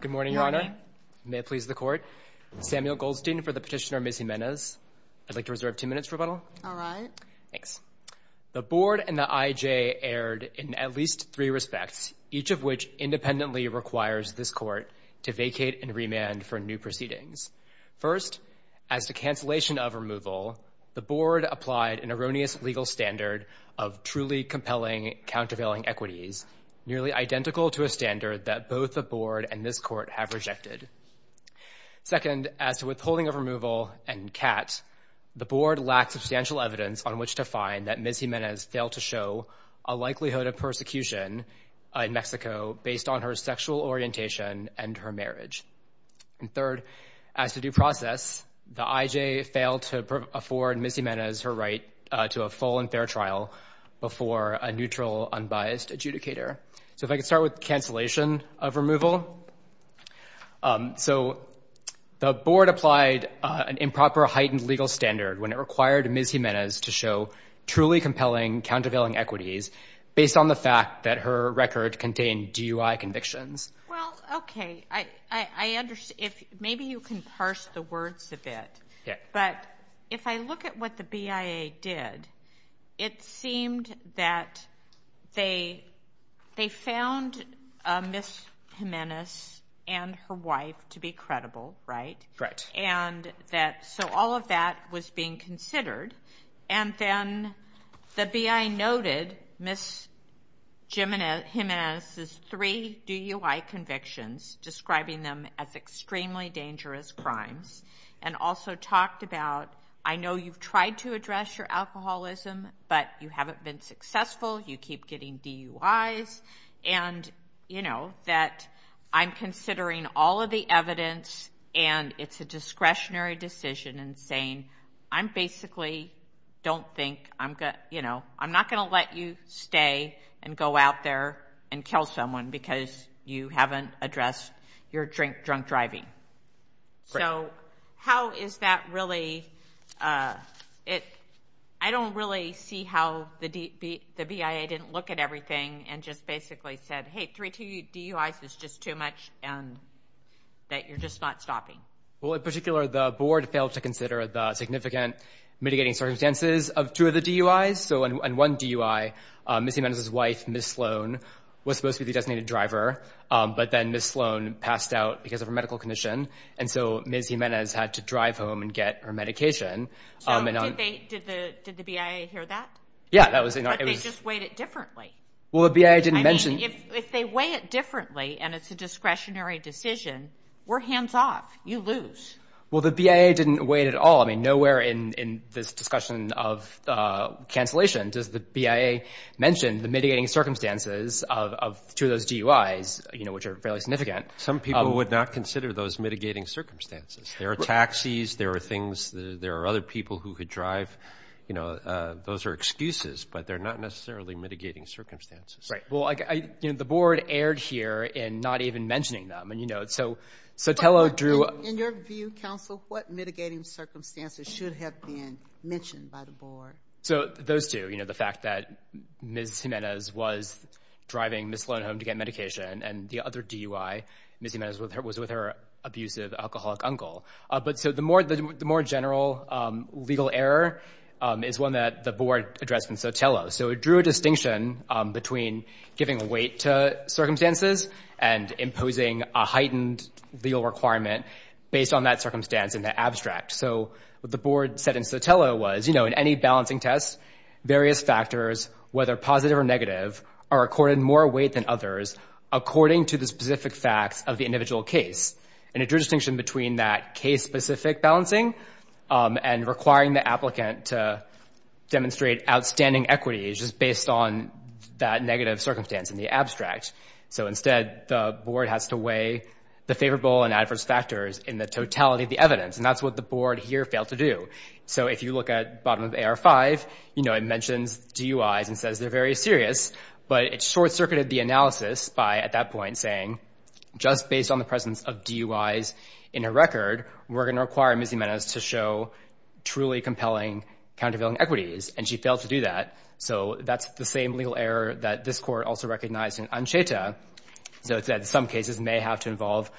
Good morning, Your Honor. May it please the Court. Samuel Goldstein for the Petitioner, Ms. Jimenez. I'd like to reserve two minutes for rebuttal. All right. Thanks. The Board and the IJ erred in at least three respects, each of which independently requires this Court to vacate and remand for new proceedings. First, as to cancellation of removal, the Board applied an erroneous legal standard of truly compelling, countervailing equities, nearly identical to a standard that both the Board and this Court have rejected. Second, as to withholding of removal and CAT, the Board lacked substantial evidence on which to find that Ms. Jimenez failed to show a likelihood of persecution in Mexico based on her sexual orientation and her marriage. And third, as to due process, the IJ failed to afford Ms. Jimenez her right to a full and fair trial before a neutral, unbiased adjudicator. So if I could start with cancellation of removal. So the Board applied an improper heightened legal standard when it required Ms. Jimenez to show truly compelling, countervailing equities based on the fact that her record contained DUI convictions. Well, okay. I understand. Maybe you can parse the words a bit. Yeah. But if I look at what the BIA did, it seemed that they found Ms. Jimenez and her wife to be credible, right? Right. So all of that was being considered. And then the BIA noted Ms. Jimenez's three DUI convictions, describing them as extremely dangerous crimes, and also talked about, I know you've tried to address your alcoholism, but you haven't been successful. You keep getting DUIs. And, you know, that I'm considering all of the evidence, and it's a discretionary decision in saying, I'm basically don't think I'm going to, you know, I'm not going to let you stay and go out there and drink drunk driving. So how is that really? I don't really see how the BIA didn't look at everything and just basically said, hey, three DUIs is just too much, and that you're just not stopping. Well, in particular, the Board failed to consider the significant mitigating circumstances of two of the DUIs. So in one DUI, Ms. Jimenez's wife, Ms. Sloan, was supposed to be the designated driver, but then Ms. Sloan passed out because of her medical condition. And so Ms. Jimenez had to drive home and get her medication. So did the BIA hear that? Yeah, that was in our... But they just weighed it differently. Well, the BIA didn't mention... I mean, if they weigh it differently, and it's a discretionary decision, we're hands off. You lose. Well, the BIA didn't weigh it at all. I mean, nowhere in this discussion of cancellation does the BIA mention the mitigating circumstances of two of those DUIs, which are fairly significant. Some people would not consider those mitigating circumstances. There are taxis, there are things, there are other people who could drive. Those are excuses, but they're not necessarily mitigating circumstances. Right. Well, the Board erred here in not even mentioning them. And so Tello drew... In your view, counsel, what mitigating circumstances should have been mentioned by the Board? So those two, the fact that Ms. Jimenez was driving Ms. Sloan home to get medication, and the other DUI, Ms. Jimenez was with her abusive alcoholic uncle. But so the more general legal error is one that the Board addressed in Sotelo. So it drew a distinction between giving weight to circumstances and imposing a heightened legal requirement based on that circumstance in the abstract. So what the Board said in Sotelo was, in any balancing test, various factors, whether positive or negative, are accorded more weight than others according to the specific facts of the individual case. And it drew a distinction between that case-specific balancing and requiring the applicant to demonstrate outstanding equity just based on that negative circumstance in the abstract. So instead, the Board has to weigh the favorable and adverse factors in the totality of the evidence. And that's what the Board here failed to do. So if you look at bottom of AR-5, you know, it mentions DUIs and says they're very serious. But it short-circuited the analysis by, at that point, saying, just based on the presence of DUIs in her record, we're going to require Ms. Jimenez to show truly compelling countervailing equities. And she failed to do that. So that's the same legal error that this Court also recognized in Ancheta. So it said some cases may have to involve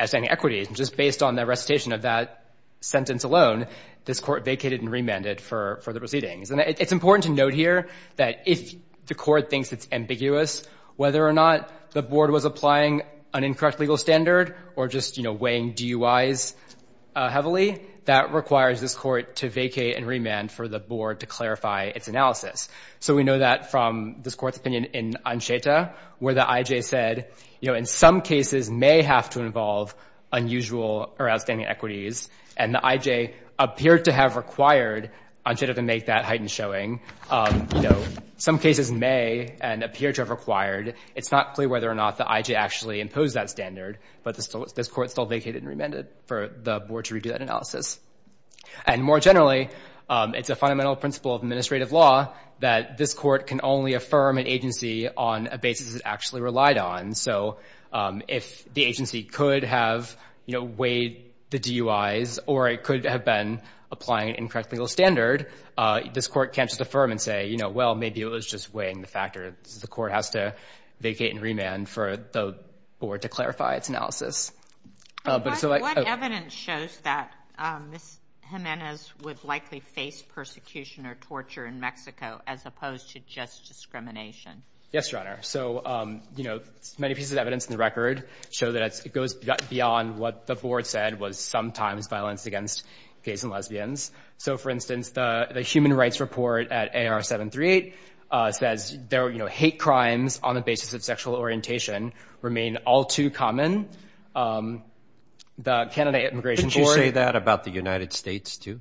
outstanding equities. And just based on recitation of that sentence alone, this Court vacated and remanded for the proceedings. And it's important to note here that if the Court thinks it's ambiguous, whether or not the Board was applying an incorrect legal standard or just, you know, weighing DUIs heavily, that requires this Court to vacate and remand for the Board to clarify its analysis. So we know that from this Court's opinion in Ancheta, where the IJ said, you know, some cases may have to involve unusual or outstanding equities, and the IJ appeared to have required Ancheta to make that heightened showing. You know, some cases may and appear to have required. It's not clear whether or not the IJ actually imposed that standard. But this Court still vacated and remanded for the Board to redo that analysis. And more generally, it's a fundamental principle of administrative law that this Court can only if the agency could have, you know, weighed the DUIs or it could have been applying an incorrect legal standard. This Court can't just affirm and say, you know, well, maybe it was just weighing the factor. The Court has to vacate and remand for the Board to clarify its analysis. But it's like— What evidence shows that Ms. Jimenez would likely face persecution or torture in Mexico as opposed to just discrimination? Yes, Your Honor. So, you know, many pieces of evidence in the record show that it goes beyond what the Board said was sometimes violence against gays and lesbians. So, for instance, the Human Rights Report at AR 738 says, you know, hate crimes on the basis of sexual orientation remain all too common. The Canada Immigration Board— Couldn't you say that about the United States, too?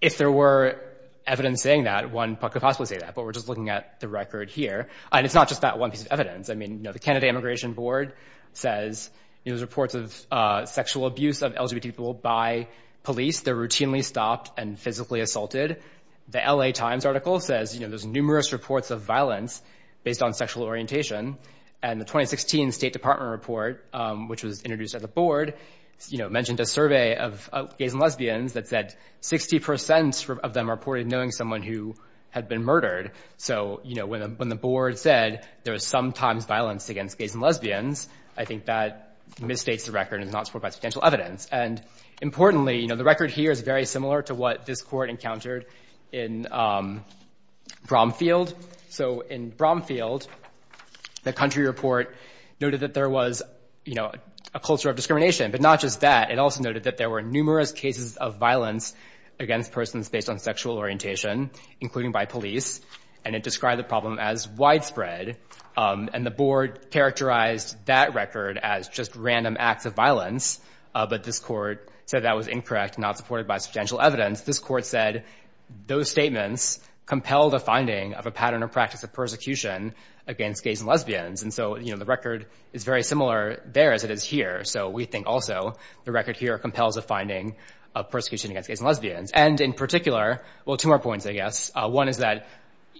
If there were evidence saying that, one could possibly say that. But we're just looking at the record here. And it's not just that one piece of evidence. I mean, you know, the Canada Immigration Board says, you know, there's reports of sexual abuse of LGBT people by police. They're routinely stopped and physically assaulted. The L.A. Times article says, you know, there's numerous reports of violence based on sexual orientation. And the 2016 State Department report, which was introduced at the Board, you know, mentioned a survey of gays and lesbians that said 60 percent of them reported knowing someone who had been murdered. So, you know, when the Board said there was sometimes violence against gays and lesbians, I think that misstates the record and is not supported by substantial evidence. And, importantly, you know, the record here is very similar to what this court encountered in Bromfield. So, in Bromfield, the country report noted that there was, you know, a culture of discrimination. But not just that. It also noted that there were And it described the problem as widespread. And the Board characterized that record as just random acts of violence. But this court said that was incorrect, not supported by substantial evidence. This court said those statements compelled a finding of a pattern or practice of persecution against gays and lesbians. And so, you know, the record is very similar there as it is here. So we think also the record here compels a finding of persecution against gays and lesbians. And, in particular, well, two more points, I guess. One is that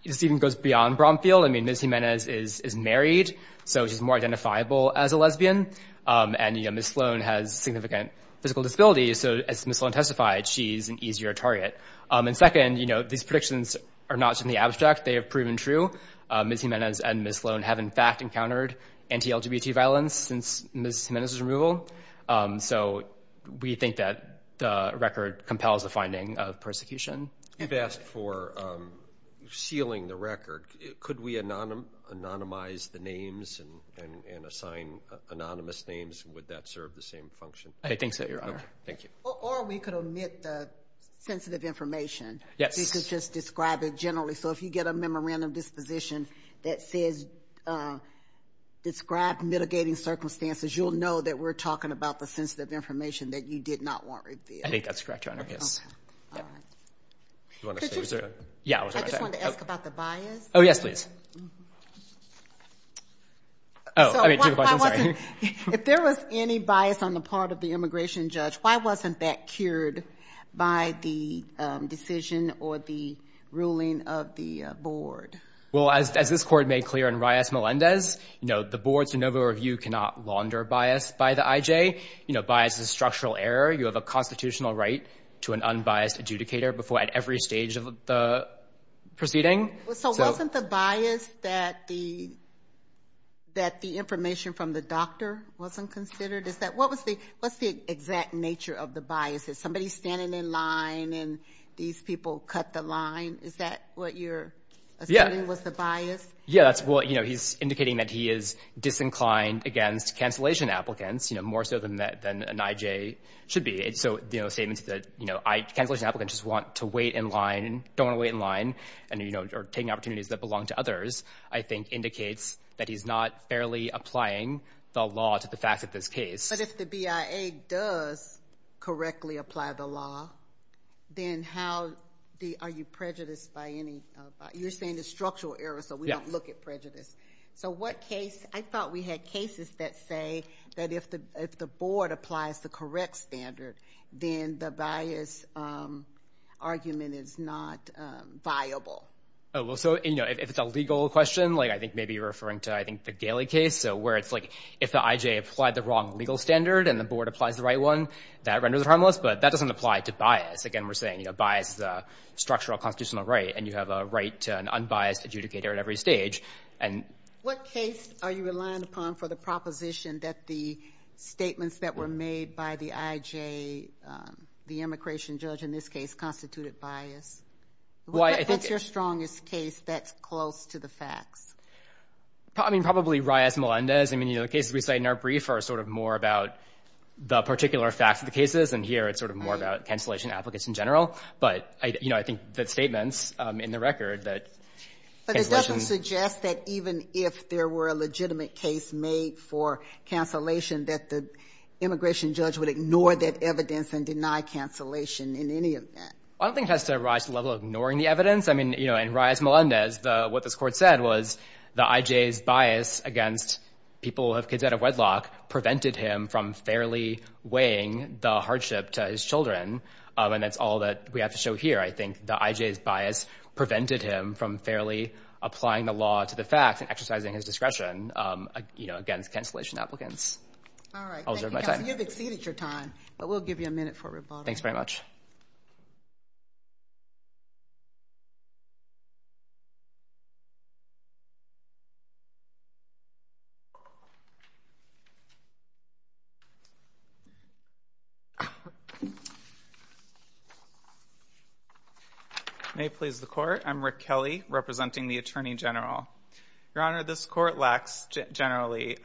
this even goes beyond Bromfield. I mean, Ms. Jimenez is married. So she's more identifiable as a lesbian. And, you know, Ms. Sloan has significant physical disability. So, as Ms. Sloan testified, she's an easier target. And, second, you know, these predictions are not simply abstract. They have proven true. Ms. Jimenez and Ms. Sloan have, in fact, encountered anti-LGBT violence since Ms. Jimenez's removal. So we think that the record compels a finding of persecution. You've asked for sealing the record. Could we anonymize the names and assign anonymous names? Would that serve the same function? I think so, Your Honor. Okay. Thank you. Or we could omit the sensitive information. Yes. You could just describe it generally. So if you get a memorandum disposition that says describe mitigating circumstances, you'll know that we're talking about the sensitive information that you did not want revealed. I think that's correct, Your Honor. Yes. I just wanted to ask about the bias. Oh, yes, please. If there was any bias on the part of the immigration judge, why wasn't that cured by the decision or the ruling of the board? Well, as this Court made clear in Reyes-Melendez, you know, the board's de novo review cannot launder bias by the constitutional right to an unbiased adjudicator at every stage of the proceeding. So wasn't the bias that the information from the doctor wasn't considered? What's the exact nature of the bias? Is somebody standing in line and these people cut the line? Is that what you're assuming was the bias? Yes. Well, you know, he's indicating that he is disinclined against cancellation applicants, you know, more so than an IJ should be. So, you know, statements that, you know, cancellation applicants just want to wait in line, don't want to wait in line, and, you know, are taking opportunities that belong to others, I think indicates that he's not fairly applying the law to the facts of this case. But if the BIA does correctly apply the law, then how are you prejudiced by any—you're saying the structural error, so we don't look at prejudice. So what case—I thought we had cases that say that if the board applies the correct standard, then the bias argument is not viable. Oh, well, so, you know, if it's a legal question, like I think maybe you're referring to, I think, the Galey case, so where it's like if the IJ applied the wrong legal standard and the board applies the right one, that renders it harmless, but that doesn't apply to bias. Again, we're saying, you know, bias is a structural constitutional right, and you have a right to an unbiased adjudicator at every stage. And what case are you relying upon for the proposition that the statements that were made by the IJ, the immigration judge in this case, constituted bias? That's your strongest case that's close to the facts. I mean, probably Reyes-Melendez. I mean, you know, the cases we cite in our brief are sort of more about the particular facts of the cases, and here it's sort of more about cancellation applicants in general. But, you know, I think the statements in the record that cancellation... But it doesn't suggest that even if there were a legitimate case made for cancellation, that the immigration judge would ignore that evidence and deny cancellation in any of that. I don't think it has to rise to the level of ignoring the evidence. I mean, you know, in Reyes-Melendez, what this court said was the IJ's bias against people who have kids out of wedlock prevented him from fairly weighing the hardship to his children, and that's all that we have to show here. I think the IJ's bias prevented him from fairly applying the law to the facts and exercising his discretion, you know, against cancellation applicants. All right. Thank you, Kelsey. You've exceeded your time, but we'll give you a minute for rebuttal. Thanks very much. May it please the Court, I'm Rick Kelly, representing the Attorney General. Your Honor, this court lacks, generally,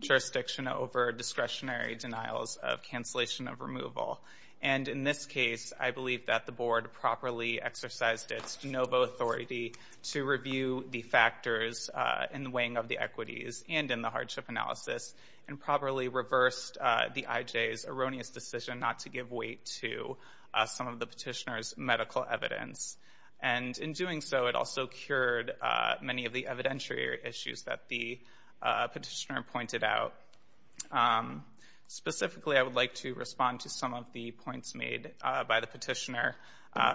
jurisdiction over discretionary denials of cancellation of removal, and in this case, I believe that the Board properly exercised its de novo authority to review the factors in the weighing of the equities and in the hardship analysis, and properly reversed the IJ's erroneous decision not to give weight to some of the petitioner's medical evidence. And in doing so, it also cured many of the evidentiary issues that the petitioner pointed out. Specifically, I would like to respond to some of the points made by the petitioner.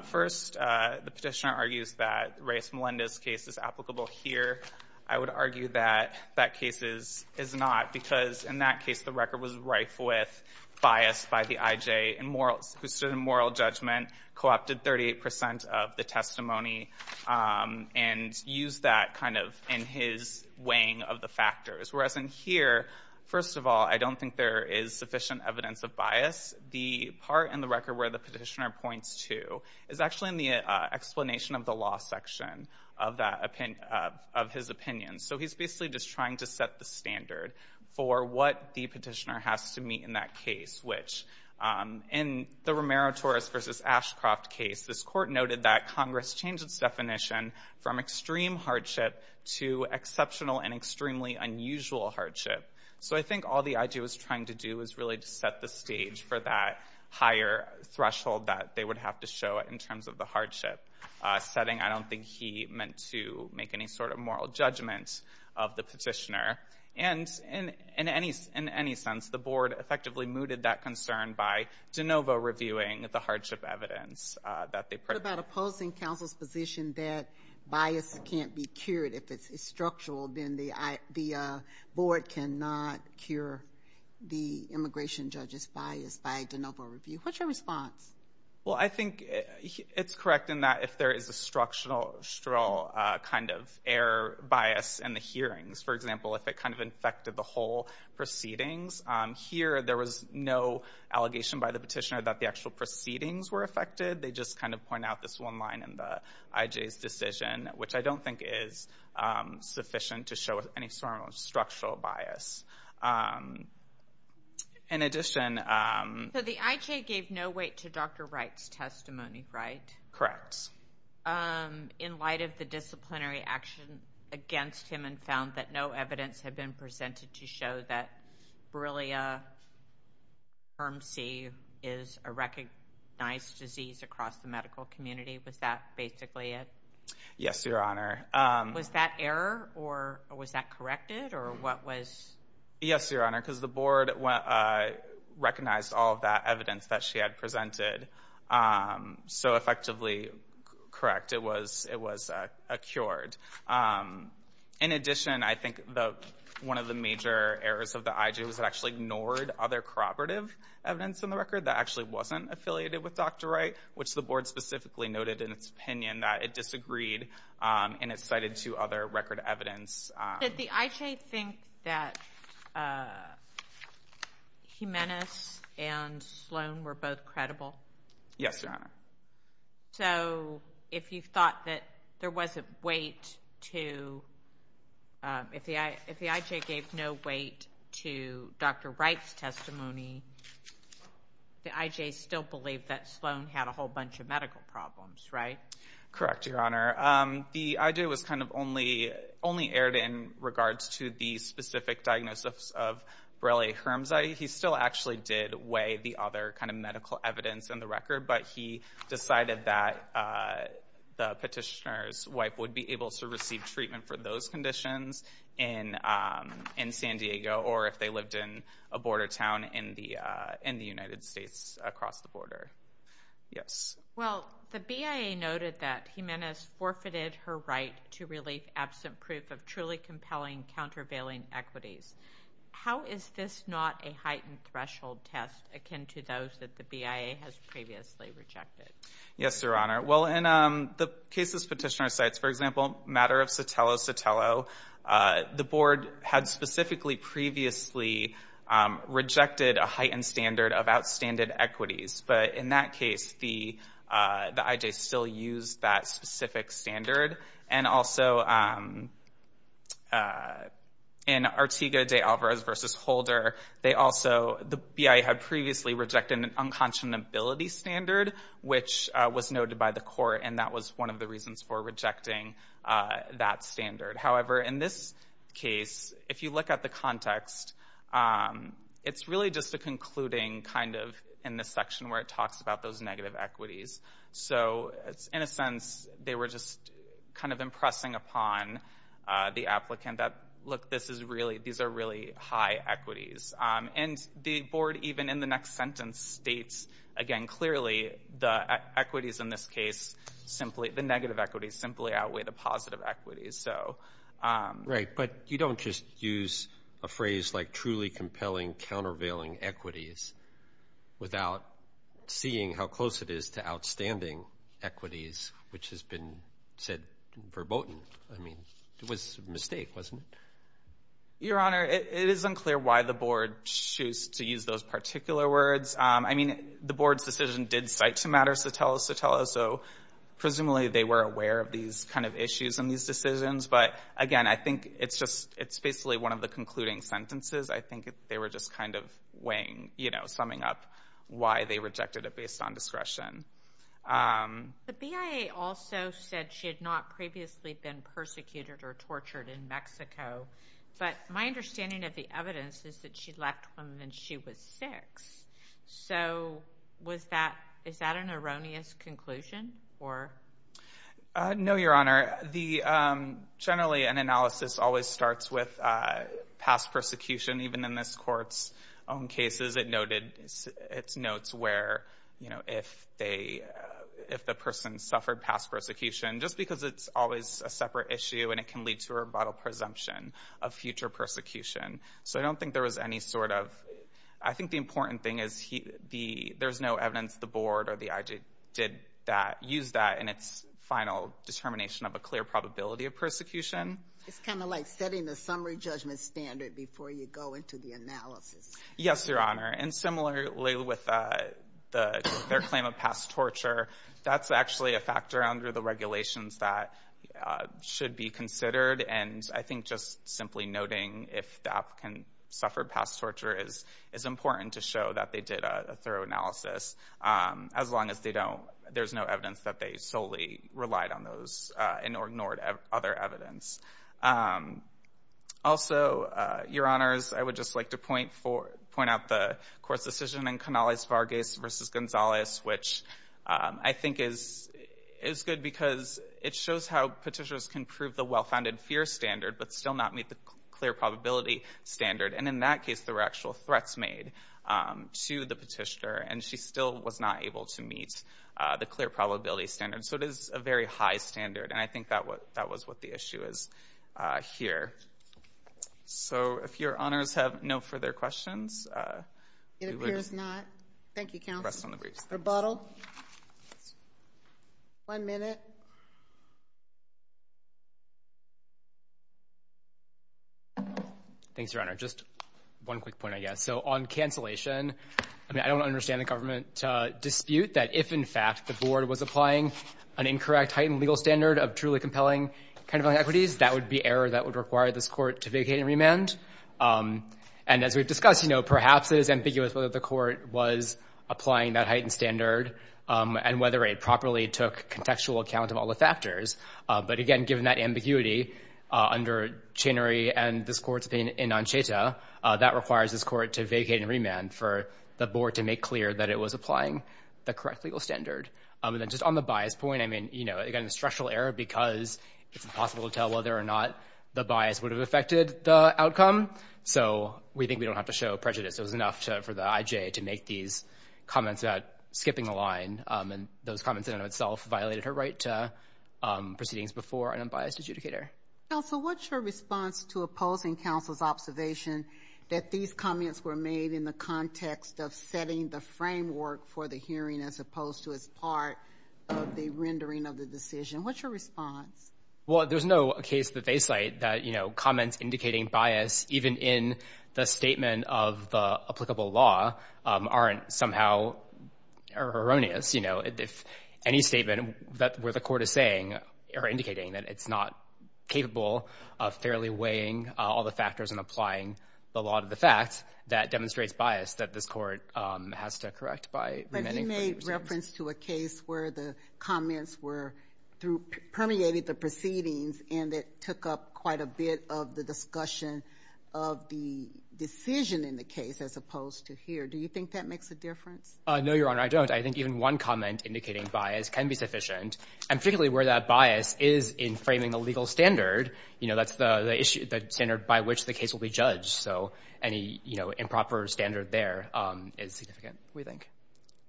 First, the petitioner argues that Reyes-Melendez's case is applicable here. I would argue that that case is not, because in that case, the record was rife with bias by the IJ, who stood in moral judgment, co-opted 38 percent of the testimony, and used that kind of in his weighing of the factors. Whereas in here, first of all, I don't think there is sufficient evidence of bias. The part in the record where the petitioner points to is actually in the explanation of the law section of his opinion. So he's basically just trying to set the standard for what the petitioner has to meet in that case, which, in the Romero-Torres v. Ashcroft case, this court noted that Congress changed its definition from extreme hardship to exceptional and extremely unusual hardship. So I think all the IJ was trying to do was really just set the stage for that higher threshold that they would have to show in terms of the hardship setting. I don't think he meant to make any sort of moral judgment of the petitioner. And in any sense, the board effectively mooted that concern by de novo reviewing the hardship evidence that they put. What about opposing counsel's position that bias can't be cured? If it's structural, then the board cannot cure the immigration judge's bias by de novo review. What's your response? Well, I think it's correct in that if there is a structural kind of error, bias in the hearings, for example, if it kind of infected the whole proceedings, here there was no allegation by the petitioner that the actual proceedings were affected. They just kind of point out this one line in the IJ's decision, which I don't think is sufficient to show any sort of structural bias. In addition— So the IJ gave no weight to Dr. Wright's testimony, right? Correct. In light of the disciplinary action against him and found that no evidence had presented to show that Borrelia firm C is a recognized disease across the medical community, was that basically it? Yes, Your Honor. Was that error? Or was that corrected? Or what was— Yes, Your Honor, because the board recognized all of that evidence that she had presented. So, effectively, correct. It was cured. In addition, I think one of the major errors of the IJ was it actually ignored other corroborative evidence in the record that actually wasn't affiliated with Dr. Wright, which the board specifically noted in its opinion that it disagreed and it cited two other record evidence. Did the IJ think that Jimenez and Sloan were both credible? Yes, Your Honor. So, if you thought that there wasn't weight to— If the IJ gave no weight to Dr. Wright's testimony, the IJ still believed that Sloan had a whole bunch of medical problems, right? Correct, Your Honor. The IJ was kind of only aired in regards to the specific diagnosis of the other kind of medical evidence in the record, but he decided that the petitioner's wife would be able to receive treatment for those conditions in San Diego or if they lived in a border town in the United States across the border. Yes. Well, the BIA noted that Jimenez forfeited her right to relief absent proof of truly akin to those that the BIA has previously rejected. Yes, Your Honor. Well, in the cases petitioner cites, for example, matter of Sotelo-Sotelo, the board had specifically previously rejected a heightened standard of outstanded equities, but in that case, the IJ still used that specific standard. And also, in Artigo de Alvarez v. Holder, the BIA had previously rejected an unconscionability standard, which was noted by the court, and that was one of the reasons for rejecting that standard. However, in this case, if you look at the context, it's really just a concluding kind of in this section where it talks about those negative equities. So, in a sense, they were just kind of impressing upon the applicant that, look, these are really high equities. And the board, even in the next sentence, states again clearly the equities in this case, the negative equities simply outweigh the positive equities. Right, but you don't just use a phrase like truly compelling countervailing equities without seeing how close it is to outstanding equities, which has been said verboten. I mean, it was a mistake, wasn't it? Your Honor, it is unclear why the board chose to use those particular words. I mean, the board's decision did cite to matter Sotelo-Sotelo, so presumably they were aware of these kind of issues in these decisions. But again, I think it's just it's basically one of the concluding sentences. I think they were just kind of summing up why they rejected it based on discretion. The BIA also said she had not previously been persecuted or tortured in Mexico, but my understanding of the evidence is that she left when she was six. So, is that an erroneous conclusion? No, Your Honor. Generally, an analysis always starts with past persecution. Even in this Court's own cases, it noted its notes where, you know, if the person suffered past persecution, just because it's always a separate issue and it can lead to a rebuttal presumption of future persecution. So, I don't think there was any sort of, I think the important thing is there's no evidence the board or the IG did use that in its final determination of a clear probability of persecution. It's kind of like setting the summary judgment standard before you go into the analysis. Yes, Your Honor. And similarly with their claim of past torture, that's actually a factor under the regulations that should be considered. And I think just simply noting if the applicant suffered past torture is important to show that they did a thorough analysis. As long as they don't, there's no evidence that they solely relied on those and ignored other evidence. Also, Your Honors, I would just like to point out the Court's decision in Canales-Vargas v. Gonzalez, which I think is good because it shows how petitioners can prove the well-founded fear standard but still not meet the clear probability standard. And in that case, there were actual threats made to the petitioner and she still was not able to meet the clear probability standard. So, it is a very high standard and I think that was what the issue is here. So, if Your Honors have no further questions. It appears not. Thank you, counsel. Rebuttal. One minute. Thanks, Your Honor. Just one quick point, I guess. So, on cancellation, I mean, I don't understand the government dispute that if, in fact, the Board was applying an incorrect heightened legal standard of truly compelling kind of equities, that would be error that would require this Court to vacate and remand. And as we've discussed, you know, perhaps it is ambiguous whether the Court was applying that heightened standard and whether it properly took contextual account of all the that requires this Court to vacate and remand for the Board to make clear that it was applying the correct legal standard. And then just on the bias point, I mean, you know, again, structural error because it's impossible to tell whether or not the bias would have affected the outcome. So, we think we don't have to show prejudice. It was enough for the IJ to make these comments about skipping the line and those comments in and of itself violated her right to proceedings before an unbiased adjudicator. Counsel, what's your response to opposing counsel's observation that these comments were made in the context of setting the framework for the hearing as opposed to as part of the rendering of the decision? What's your response? Well, there's no case that they cite that, you know, comments indicating bias even in the statement of the applicable law aren't somehow erroneous. You know, if any statement where the factors in applying the law to the facts, that demonstrates bias that this Court has to correct by remanding. But he made reference to a case where the comments were permeated the proceedings and it took up quite a bit of the discussion of the decision in the case as opposed to here. Do you think that makes a difference? No, Your Honor, I don't. I think even one comment indicating bias can be sufficient. And particularly where that bias is in framing the legal standard, you know, that's the standard by which the case will be judged. So any, you know, improper standard there is significant, we think.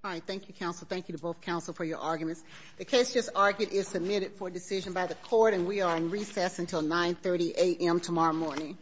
All right. Thank you, counsel. Thank you to both counsel for your arguments. The case just argued is submitted for decision by the Court, and we are in recess until 9.30 a.m. tomorrow morning.